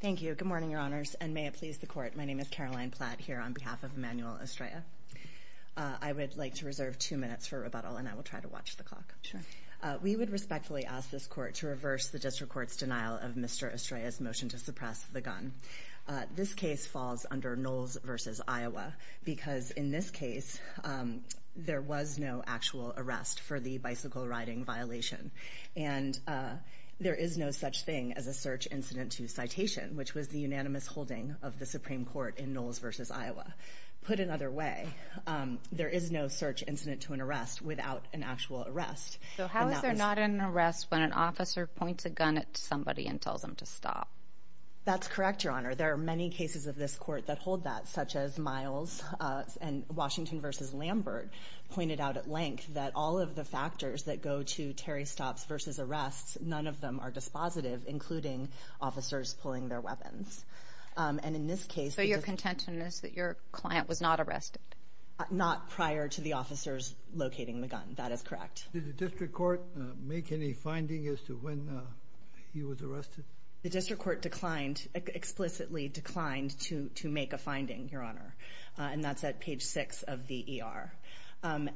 Thank you. Good morning, Your Honors. And may it please the Court, my name is Caroline Platt, here on behalf of Emanuel Estrella. I would like to reserve two minutes for rebuttal, and I will try to watch the clock. We would respectfully ask this Court to reverse the District Court's denial of Mr. Estrella's motion to suppress the gun. This case falls under Knowles v. Iowa, because in this case, there was no actual arrest for the bicycle-riding violation. And there is no such thing as a search incident to citation, which was the unanimous holding of the Supreme Court in Knowles v. Iowa. Put another way, there is no search incident to an arrest without an actual arrest. So how is there not an arrest when an officer points a gun at somebody and tells them to stop? That's correct, Your Honor. There are many cases of this Court that hold that, such as Miles and Washington v. Lambert pointed out at length that all of the factors that go to Terry stops versus arrests, none of them are dispositive, including officers pulling their weapons. So your contention is that your client was not arrested? Not prior to the officers locating the gun. That is correct. Did the District Court make any finding as to when he was arrested? The District Court explicitly declined to make a finding, Your Honor. And that's at page 6 of the ER. And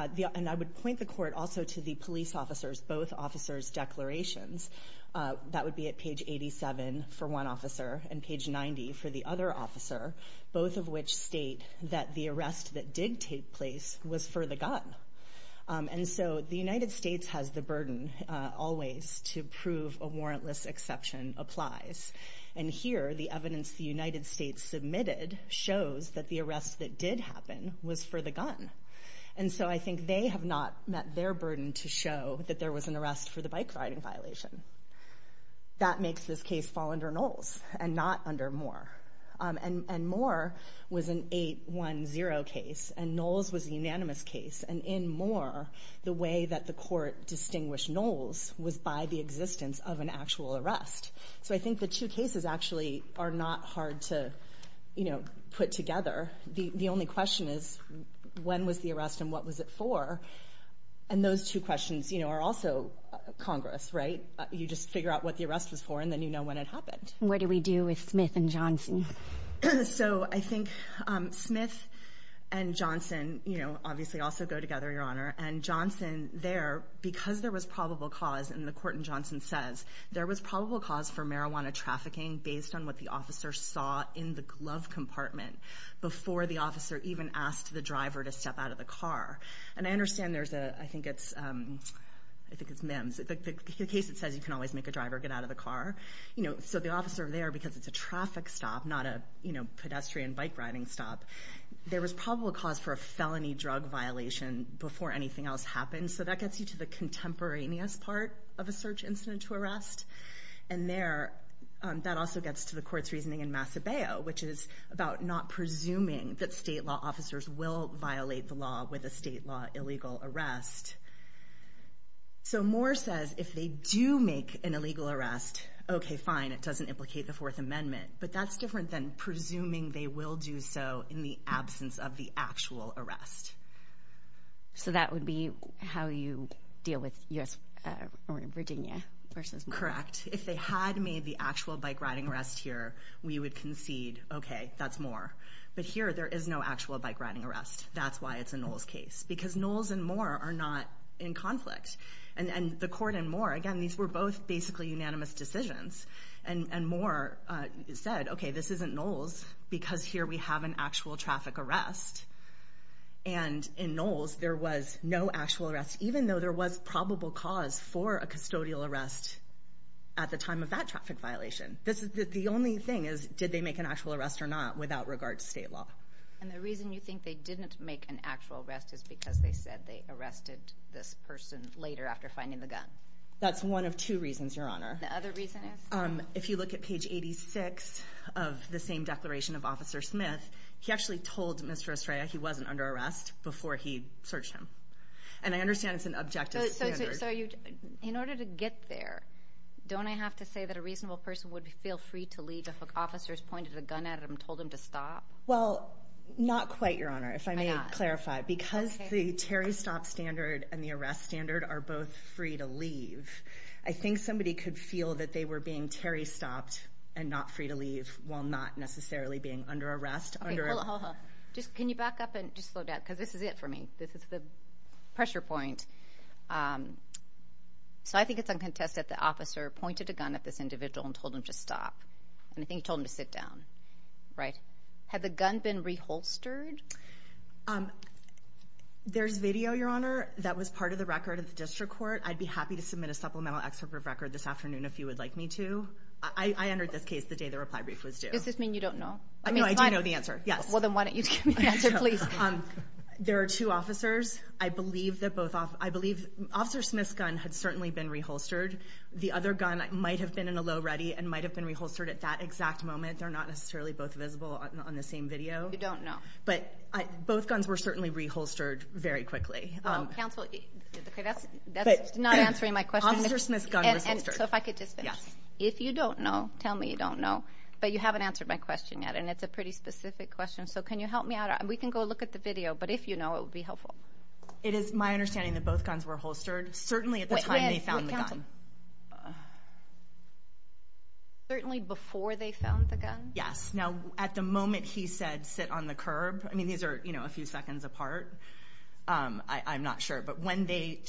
I would point the Court also to the police officers, both officers' declarations. That would be at page 87 for one officer and page 90 for the other officer, both of which state that the arrest that did take place was for the gun. And so the United States has the burden always to prove a warrantless exception applies. And here, the evidence the United States submitted shows that the arrest that did happen was for the gun. And so I think they have not met their burden to show that there was an arrest for the bike riding violation. That makes this case fall under Knowles and not under Moore. And Moore was an 8-1-0 case, and Knowles was a unanimous case. And in Moore, the way that the Court distinguished Knowles was by the existence of an actual arrest. So I think the two cases actually are not hard to, you know, put together. The only question is, when was the arrest and what was it for? And those two questions, you know, are also Congress, right? You just figure out what the arrest was for, and then you know when it happened. What do we do with Smith and Johnson? So I think Smith and Johnson, you know, obviously also go together, Your Honor. And Johnson there, because there was probable cause, and the Court in Johnson says, there was probable cause for marijuana trafficking based on what the officer saw in the glove compartment before the officer even asked the driver to step out of the car. And I understand there's a, I think it's MIMS, the case that says you can always make a driver get out of the car. You know, so the officer there, because it's a traffic stop, not a, you know, pedestrian bike riding stop, there was probable cause for a felony drug violation before anything else happened. So that gets you to the contemporaneous part of a search incident to arrest. And there, that also gets to the Court's reasoning in Macebeo, which is about not presuming that state law officers will violate the law with a state law illegal arrest. So Moore says if they do make an illegal arrest, okay, fine, it doesn't implicate the Fourth Amendment. But that's different than presuming they will do so in the absence of the actual arrest. So that would be how you deal with U.S. or Virginia versus Moore? Correct. If they had made the actual bike riding arrest here, we would concede, okay, that's Moore. But here there is no actual bike riding arrest. That's why it's a Knowles case, because Knowles and Moore are not in conflict. And the Court and Moore, again, these were both basically unanimous decisions. And Moore said, okay, this isn't Knowles because here we have an actual traffic arrest. And in Knowles there was no actual arrest, even though there was probable cause for a custodial arrest at the time of that traffic violation. The only thing is did they make an actual arrest or not without regard to state law. And the reason you think they didn't make an actual arrest is because they said they arrested this person later after finding the gun. That's one of two reasons, Your Honor. The other reason is? If you look at page 86 of the same declaration of Officer Smith, he actually told Mr. Estrella he wasn't under arrest before he searched him. And I understand it's an objective standard. So in order to get there, don't I have to say that a reasonable person would feel free to leave if an officer has pointed a gun at him and told him to stop? Well, not quite, Your Honor, if I may clarify. Because the Terry stop standard and the arrest standard are both free to leave, I think somebody could feel that they were being Terry stopped and not free to leave while not necessarily being under arrest. Hold on, hold on. Can you back up and just slow down? Because this is it for me. This is the pressure point. So I think it's uncontested that the officer pointed a gun at this individual and told him to stop. And I think he told him to sit down. Had the gun been reholstered? There's video, Your Honor, that was part of the record of the district court. I'd be happy to submit a supplemental excerpt of record this afternoon if you would like me to. I entered this case the day the reply brief was due. Does this mean you don't know? No, I do know the answer, yes. Well, then why don't you give me the answer, please? There are two officers. I believe Officer Smith's gun had certainly been reholstered. The other gun might have been in a low ready and might have been reholstered at that exact moment. They're not necessarily both visible on the same video. You don't know. But both guns were certainly reholstered very quickly. Counsel, that's not answering my question. Officer Smith's gun was holstered. So if I could just finish. Yes. If you don't know, tell me you don't know. But you haven't answered my question yet, and it's a pretty specific question. So can you help me out? We can go look at the video. But if you know, it would be helpful. It is my understanding that both guns were holstered certainly at the time they found the gun. Certainly before they found the gun? Yes. Now, at the moment he said, sit on the curb, I mean, these are a few seconds apart. I'm not sure. But when they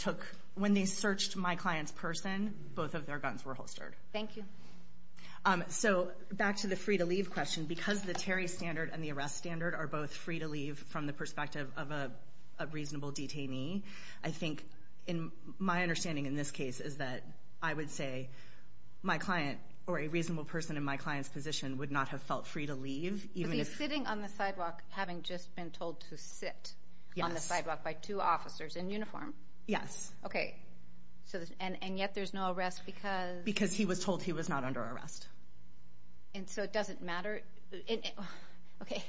searched my client's person, both of their guns were holstered. Thank you. So back to the free-to-leave question. Because the Terry standard and the arrest standard are both free-to-leave from the perspective of a reasonable detainee, I think my understanding in this case is that I would say my client or a reasonable person in my client's position would not have felt free to leave. But he's sitting on the sidewalk having just been told to sit on the sidewalk by two officers in uniform? Yes. Okay. And yet there's no arrest because? Because he was told he was not under arrest. And so it doesn't matter? Okay.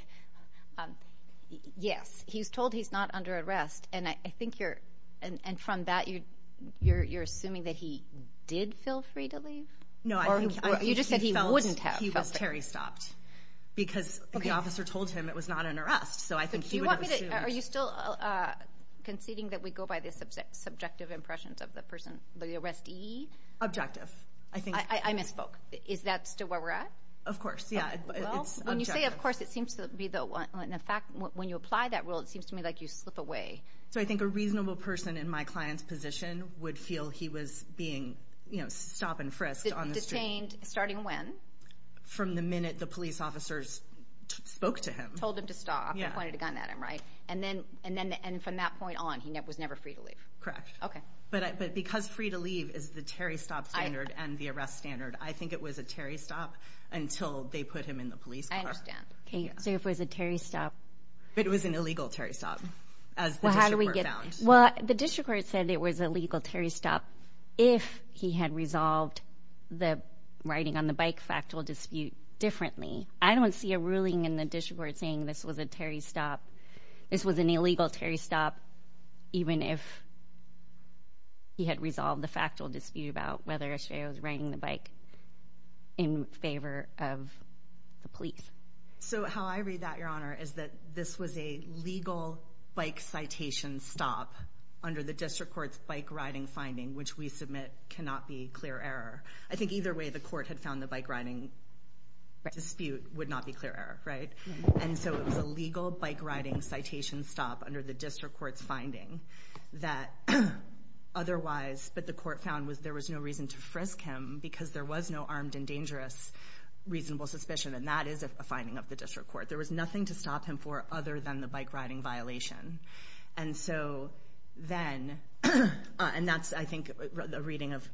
Yes. He's told he's not under arrest. And I think you're – and from that you're assuming that he did feel free to leave? No. You just said he wouldn't have felt free. Because the officer told him it was not an arrest, so I think he would have assumed. Are you still conceding that we go by the subjective impressions of the person, the arrestee? Objective. I misspoke. Is that still where we're at? Of course, yeah. Well, when you say of course, it seems to be the – in fact, when you apply that rule, it seems to me like you slip away. So I think a reasonable person in my client's position would feel he was being, you know, stop-and-frisked on the street. Detained starting when? From the minute the police officers spoke to him. Told him to stop. Yeah. Pointed a gun at him, right? And then from that point on, he was never free to leave. Correct. Okay. But because free to leave is the Terry stop standard and the arrest standard, I think it was a Terry stop until they put him in the police car. I understand. Okay. So it was a Terry stop. But it was an illegal Terry stop as the district court found. Well, how do we get – well, the district court said it was a legal Terry stop if he had resolved the riding-on-the-bike factual dispute differently. I don't see a ruling in the district court saying this was a Terry stop – this was an illegal Terry stop even if he had resolved the factual dispute about whether or not he was riding the bike in favor of the police. So how I read that, Your Honor, is that this was a legal bike citation stop under the district court's bike-riding finding, which we submit cannot be clear error. I think either way the court had found the bike-riding dispute would not be clear error, right? And so it was a legal bike-riding citation stop under the district court's finding that otherwise – but the court found there was no reason to frisk him because there was no armed and dangerous reasonable suspicion, and that is a finding of the district court. There was nothing to stop him for other than the bike-riding violation. And so then – and that's, I think, a reading of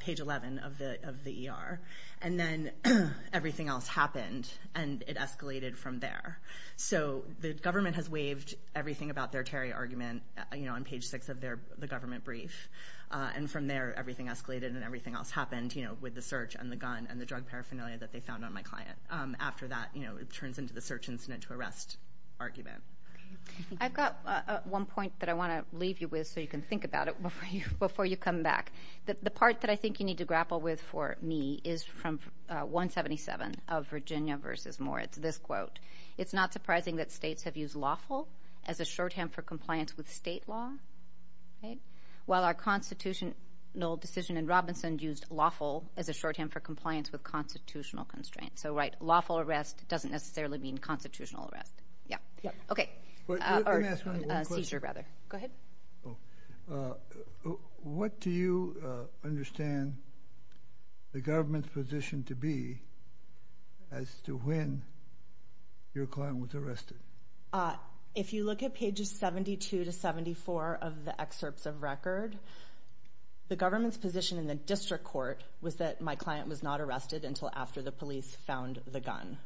page 11 of the ER. And then everything else happened, and it escalated from there. So the government has waived everything about their Terry argument on page 6 of the government brief, and from there everything escalated and everything else happened with the search and the gun and the drug paraphernalia that they found on my client. After that, it turns into the search incident to arrest argument. I've got one point that I want to leave you with so you can think about it before you come back. The part that I think you need to grapple with for me is from 177 of Virginia v. Moore. It's this quote. It's not surprising that states have used lawful as a shorthand for compliance with state law, right, while our constitutional decision in Robinson used lawful as a shorthand for compliance with constitutional constraints. So, right, lawful arrest doesn't necessarily mean constitutional arrest. Yeah. Okay. Or seizure, rather. Go ahead. What do you understand the government's position to be as to when your client was arrested? If you look at pages 72 to 74 of the excerpts of record, the government's position in the district court was that my client was not arrested until after the police found the gun.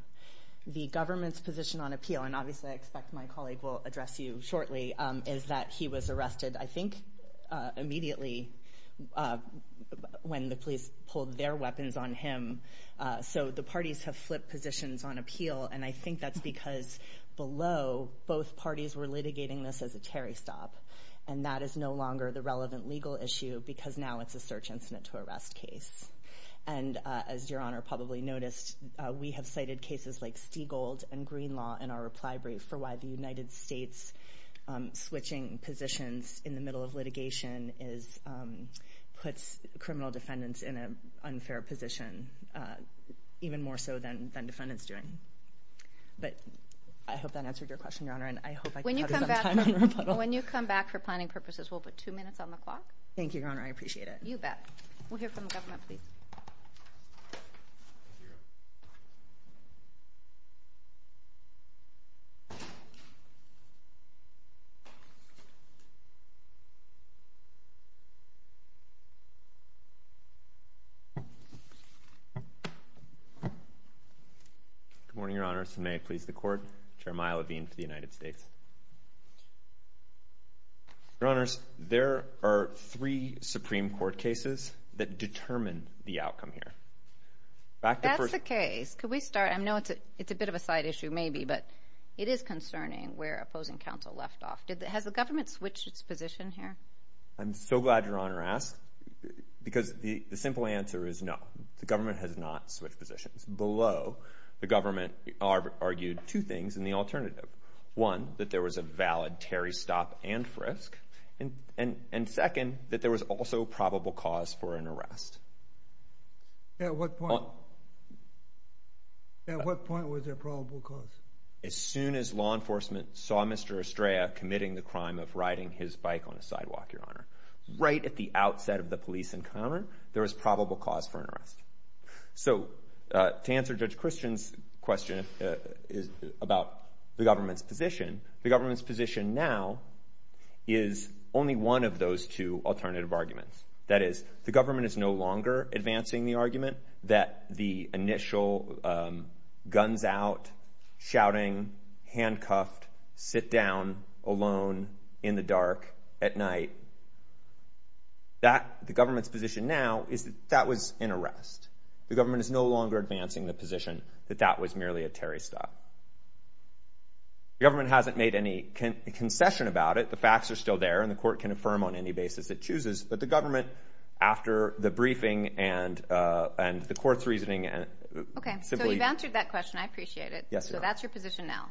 The government's position on appeal, and obviously I expect my colleague will address you shortly, is that he was arrested, I think, immediately when the police pulled their weapons on him. So the parties have flipped positions on appeal, and I think that's because below, both parties were litigating this as a Terry stop, and that is no longer the relevant legal issue because now it's a search incident to arrest case. And as Your Honor probably noticed, we have cited cases like Stigold and Greenlaw in our reply brief for why the United States switching positions in the middle of litigation puts criminal defendants in an unfair position, even more so than defendants doing. But I hope that answered your question, Your Honor, and I hope I cut you some time on rebuttal. When you come back for planning purposes, we'll put two minutes on the clock. Thank you, Your Honor. I appreciate it. Thank you, Beth. We'll hear from the government, please. Good morning, Your Honors, and may it please the Court, Chair Maya Levine for the United States. Your Honors, there are three Supreme Court cases that determine the outcome here. That's the case. Could we start? I know it's a bit of a side issue, maybe, but it is concerning where opposing counsel left off. Has the government switched its position here? I'm so glad Your Honor asked because the simple answer is no. The government has not switched positions. Below, the government argued two things in the alternative. One, that there was a valid Terry stop and frisk, and second, that there was also probable cause for an arrest. At what point? At what point was there probable cause? As soon as law enforcement saw Mr. Estrella committing the crime of riding his bike on a sidewalk, Your Honor. Right at the outset of the police encounter, there was probable cause for an arrest. So to answer Judge Christian's question about the government's position, the government's position now is only one of those two alternative arguments. That is, the government is no longer advancing the argument that the initial guns out, shouting, handcuffed, sit down alone in the dark at night, the government's position now is that that was an arrest. The government is no longer advancing the position that that was merely a Terry stop. The government hasn't made any concession about it. The facts are still there, and the court can affirm on any basis it chooses, but the government, after the briefing and the court's reasoning, simply— Okay, so you've answered that question. I appreciate it. Yes, Your Honor. So that's your position now.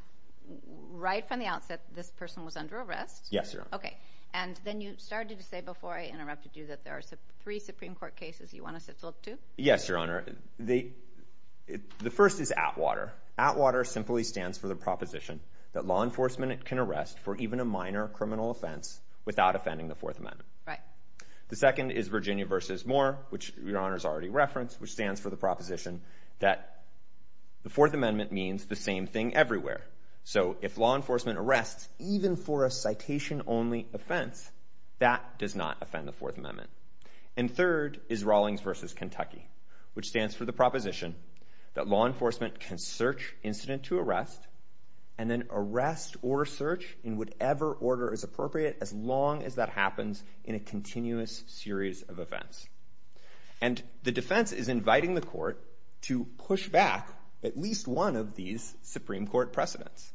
Right from the outset, this person was under arrest. Yes, Your Honor. Okay, and then you started to say before I interrupted you that there are three Supreme Court cases you want us to look to? Yes, Your Honor. The first is ATWATER. ATWATER simply stands for the proposition that law enforcement can arrest for even a minor criminal offense without offending the Fourth Amendment. Right. The second is Virginia v. Moore, which Your Honor's already referenced, which stands for the proposition that the Fourth Amendment means the same thing everywhere. So if law enforcement arrests even for a citation-only offense, that does not offend the Fourth Amendment. And third is Rawlings v. Kentucky, which stands for the proposition that law enforcement can search incident to arrest and then arrest or search in whatever order is appropriate as long as that happens in a continuous series of events. And the defense is inviting the court to push back at least one of these Supreme Court precedents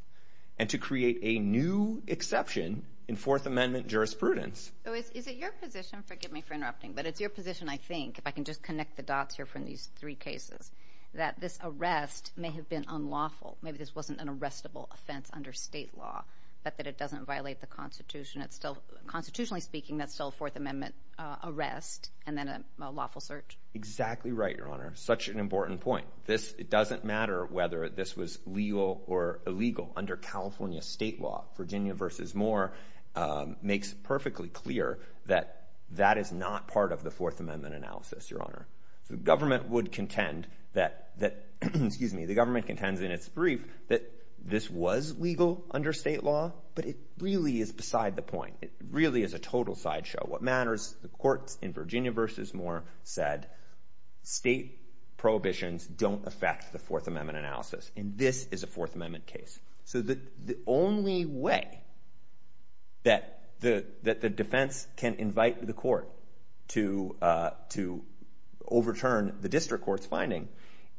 and to create a new exception in Fourth Amendment jurisprudence. So is it your position? Forgive me for interrupting, but it's your position, I think, if I can just connect the dots here from these three cases, that this arrest may have been unlawful. Maybe this wasn't an arrestable offense under state law, but that it doesn't violate the Constitution. Constitutionally speaking, that's still a Fourth Amendment arrest and then a lawful search. Exactly right, Your Honor. Such an important point. It doesn't matter whether this was legal or illegal under California state law. Virginia v. Moore makes perfectly clear that that is not part of the Fourth Amendment analysis, Your Honor. So the government would contend that this was legal under state law, but it really is beside the point. It really is a total sideshow. What matters, the courts in Virginia v. Moore said, state prohibitions don't affect the Fourth Amendment analysis, and this is a Fourth Amendment case. So the only way that the defense can invite the court to overturn the district court's finding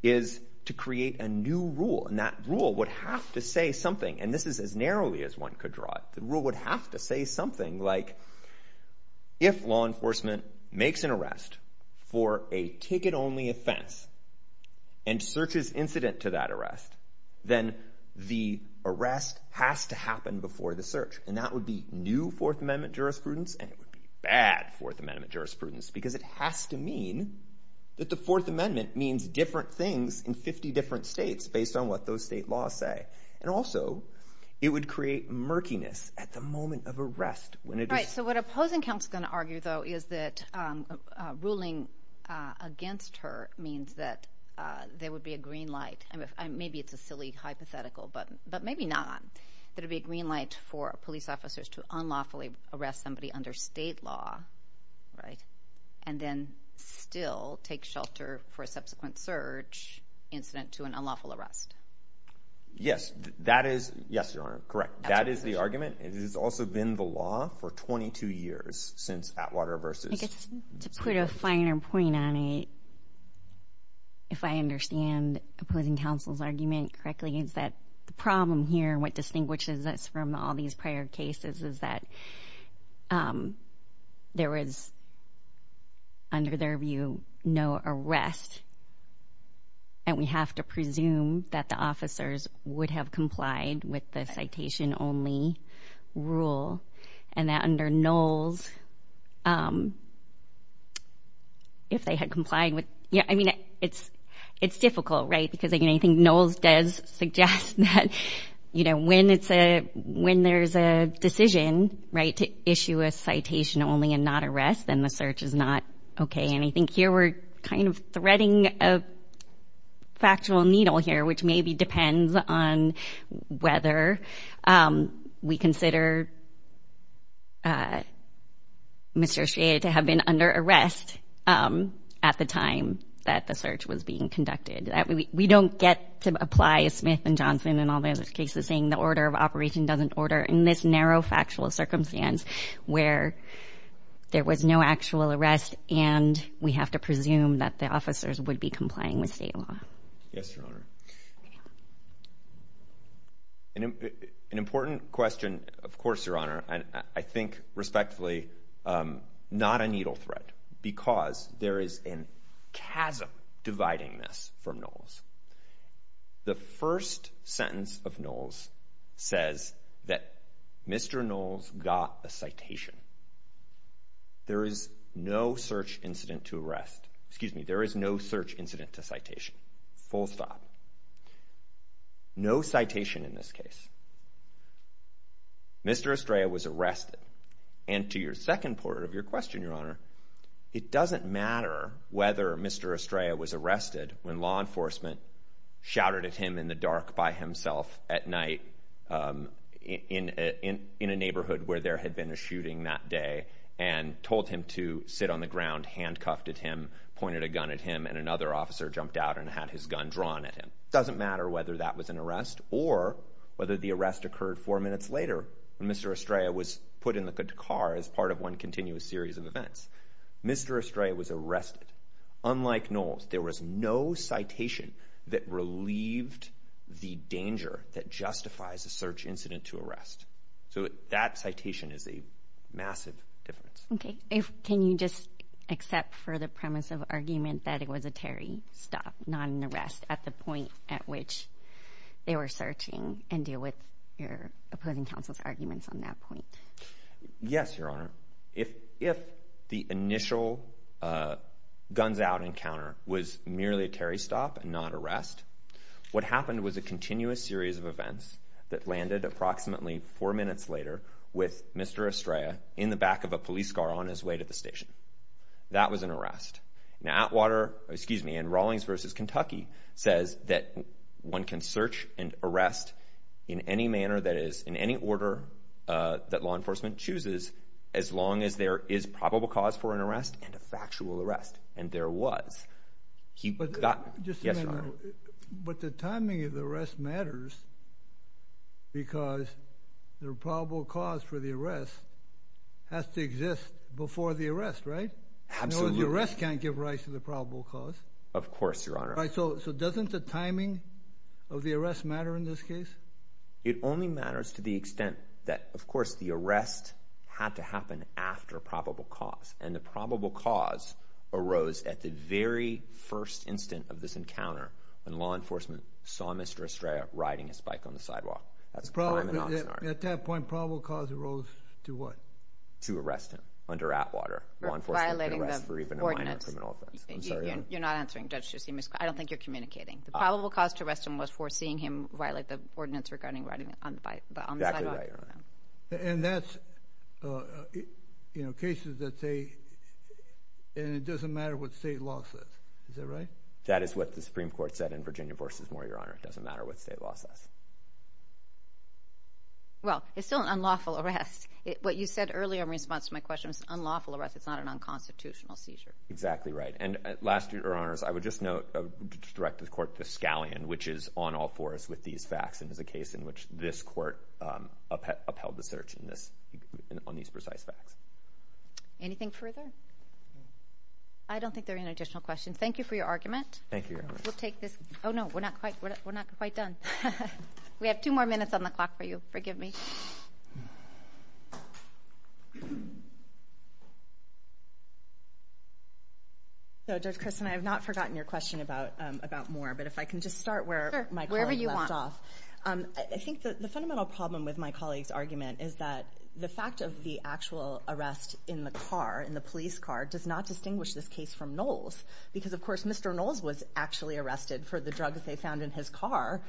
is to create a new rule, and that rule would have to say something, and this is as narrowly as one could draw it. The rule would have to say something like, if law enforcement makes an arrest for a ticket-only offense and searches incident to that arrest, then the arrest has to happen before the search, and that would be new Fourth Amendment jurisprudence, and it would be bad Fourth Amendment jurisprudence, because it has to mean that the Fourth Amendment means different things in 50 different states based on what those state laws say. And also, it would create murkiness at the moment of arrest. So what opposing counsel is going to argue, though, is that ruling against her means that there would be a green light. Maybe it's a silly hypothetical, but maybe not, that it would be a green light for police officers to unlawfully arrest somebody under state law and then still take shelter for a subsequent search incident to an unlawful arrest. Yes, that is—yes, Your Honor, correct. That is the argument. It has also been the law for 22 years since Atwater versus— I guess to put a finer point on it, if I understand opposing counsel's argument correctly, is that the problem here and what distinguishes us from all these prior cases is that there was, under their view, no arrest, and we have to presume that the officers would have complied with the citation-only rule, and that under Knowles, if they had complied with— I mean, it's difficult, right? Because I think Knowles does suggest that, you know, when there's a decision to issue a citation only and not arrest, then the search is not okay. And I think here we're kind of threading a factual needle here, which maybe depends on whether we consider Mr. O'Shea to have been under arrest at the time that the search was being conducted. We don't get to apply Smith and Johnson and all the other cases saying the order of operation doesn't order in this narrow factual circumstance where there was no actual arrest, and we have to presume that the officers would be complying with state law. Yes, Your Honor. An important question, of course, Your Honor, and I think respectfully not a needle thread because there is a chasm dividing this from Knowles. The first sentence of Knowles says that Mr. Knowles got a citation. There is no search incident to arrest. Excuse me, there is no search incident to citation. Full stop. No citation in this case. Mr. O'Shea was arrested. And to your second part of your question, Your Honor, it doesn't matter whether Mr. O'Shea was arrested when law enforcement shouted at him in the dark by himself at night in a neighborhood where there had been a shooting that day and told him to sit on the ground, handcuffed at him, pointed a gun at him, and another officer jumped out and had his gun drawn at him. It doesn't matter whether that was an arrest or whether the arrest occurred four minutes later when Mr. O'Shea was put in the car as part of one continuous series of events. Mr. O'Shea was arrested. Unlike Knowles, there was no citation that relieved the danger that justifies a search incident to arrest. So that citation is a massive difference. Okay. Can you just accept for the premise of argument that it was a Terry stop, not an arrest, at the point at which they were searching and deal with your opposing counsel's arguments on that point? Yes, Your Honor. If the initial guns out encounter was merely a Terry stop and not arrest, what happened was a continuous series of events that landed approximately four minutes later with Mr. O'Shea in the back of a police car on his way to the station. That was an arrest. Now, Atwater, excuse me, and Rawlings v. Kentucky says that one can search and arrest in any manner that is in any order that law enforcement chooses as long as there is probable cause for an arrest and a factual arrest, and there was. Just a minute. But the timing of the arrest matters because the probable cause for the arrest has to exist before the arrest, right? Absolutely. In other words, the arrest can't give rise to the probable cause. Of course, Your Honor. So doesn't the timing of the arrest matter in this case? It only matters to the extent that, of course, the arrest had to happen after probable cause, and the probable cause arose at the very first instant of this encounter when law enforcement saw Mr. O'Shea riding his bike on the sidewalk. At that point, probable cause arose to what? To arrest him under Atwater. Law enforcement could arrest for even a minor criminal offense. I'm sorry, Your Honor. You're not answering, Judge. I don't think you're communicating. The probable cause to arrest him was for seeing him violate the ordinance regarding riding on the sidewalk. Exactly right, Your Honor. And that's cases that say it doesn't matter what state law says. Is that right? That is what the Supreme Court said in Virginia v. Moore, Your Honor. It doesn't matter what state law says. Well, it's still an unlawful arrest. What you said earlier in response to my question was an unlawful arrest. It's not an unconstitutional seizure. Exactly right. And last, Your Honors, I would just note, I would direct the court to Scallion, which is on all fours with these facts and is a case in which this court upheld the search on these precise facts. Anything further? I don't think there are any additional questions. Thank you for your argument. Thank you, Your Honor. We'll take this. Oh, no, we're not quite done. We have two more minutes on the clock for you. Forgive me. Judge Christin, I have not forgotten your question about Moore, but if I can just start where my colleague left off. Sure, wherever you want. I think the fundamental problem with my colleague's argument is that the fact of the actual arrest in the car, in the police car, does not distinguish this case from Knowles, because, of course, Mr. Knowles was actually arrested for the drugs they found in his car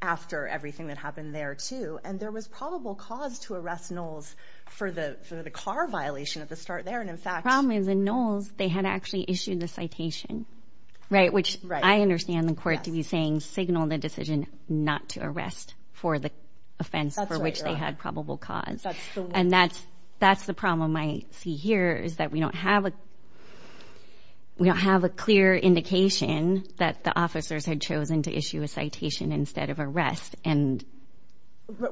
after everything that happened there, too. And there was probable cause to arrest Knowles for the car violation at the start there. And, in fact, The problem is in Knowles, they had actually issued the citation, right, which I understand the court to be saying signal the decision not to arrest for the offense for which they had probable cause. And that's the problem I see here, is that we don't have a clear indication that the officers had chosen to issue a citation instead of arrest.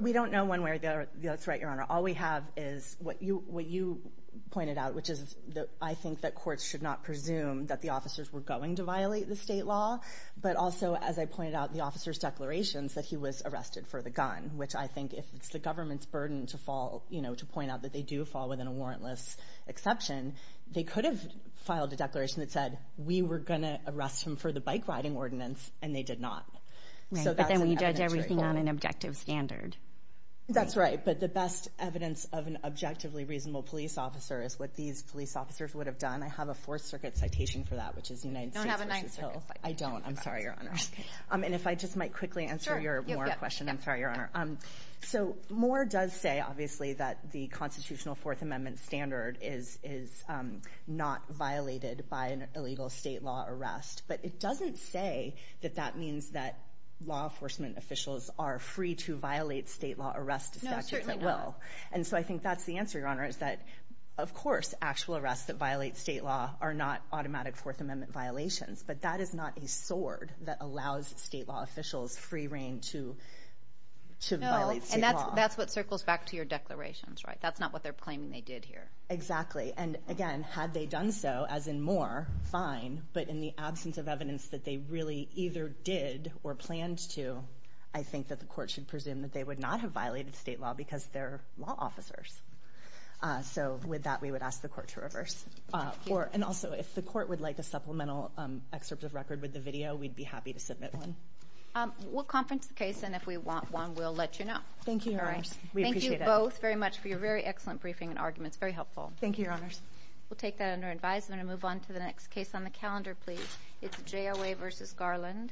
We don't know one way or the other. That's right, Your Honor. All we have is what you pointed out, which is I think that courts should not presume that the officers were going to violate the state law, but also, as I pointed out, the officer's declarations that he was arrested for the gun, which I think if it's the government's burden to point out that they do fall within a warrantless exception, they could have filed a declaration that said we were going to arrest him for the bike riding ordinance, and they did not. Right, but then we judge everything on an objective standard. That's right. But the best evidence of an objectively reasonable police officer is what these police officers would have done. I have a Fourth Circuit citation for that, which is United States v. Hill. You don't have a Ninth Circuit. I don't. I'm sorry, Your Honor. And if I just might quickly answer your Moore question. I'm sorry, Your Honor. So Moore does say, obviously, that the constitutional Fourth Amendment standard is not violated by an illegal state law arrest. But it doesn't say that that means that law enforcement officials are free to violate state law arrest statutes at will. No, certainly not. And so I think that's the answer, Your Honor, is that, of course, actual arrests that violate state law are not automatic Fourth Amendment violations. But that is not a sword that allows state law officials free reign to violate state law. No, and that's what circles back to your declarations, right? That's not what they're claiming they did here. Exactly. And, again, had they done so, as in Moore, fine, but in the absence of evidence that they really either did or planned to, I think that the court should presume that they would not have violated state law because they're law officers. So with that, we would ask the court to reverse. Thank you. And also, if the court would like a supplemental excerpt of record with the video, we'd be happy to submit one. We'll conference the case, and if we want one, we'll let you know. Thank you, Your Honor. We appreciate it. Thank you both very much for your very excellent briefing and arguments. It was very helpful. Thank you, Your Honors. We'll take that under advisement and move on to the next case on the calendar, please. It's JOA v. Garland.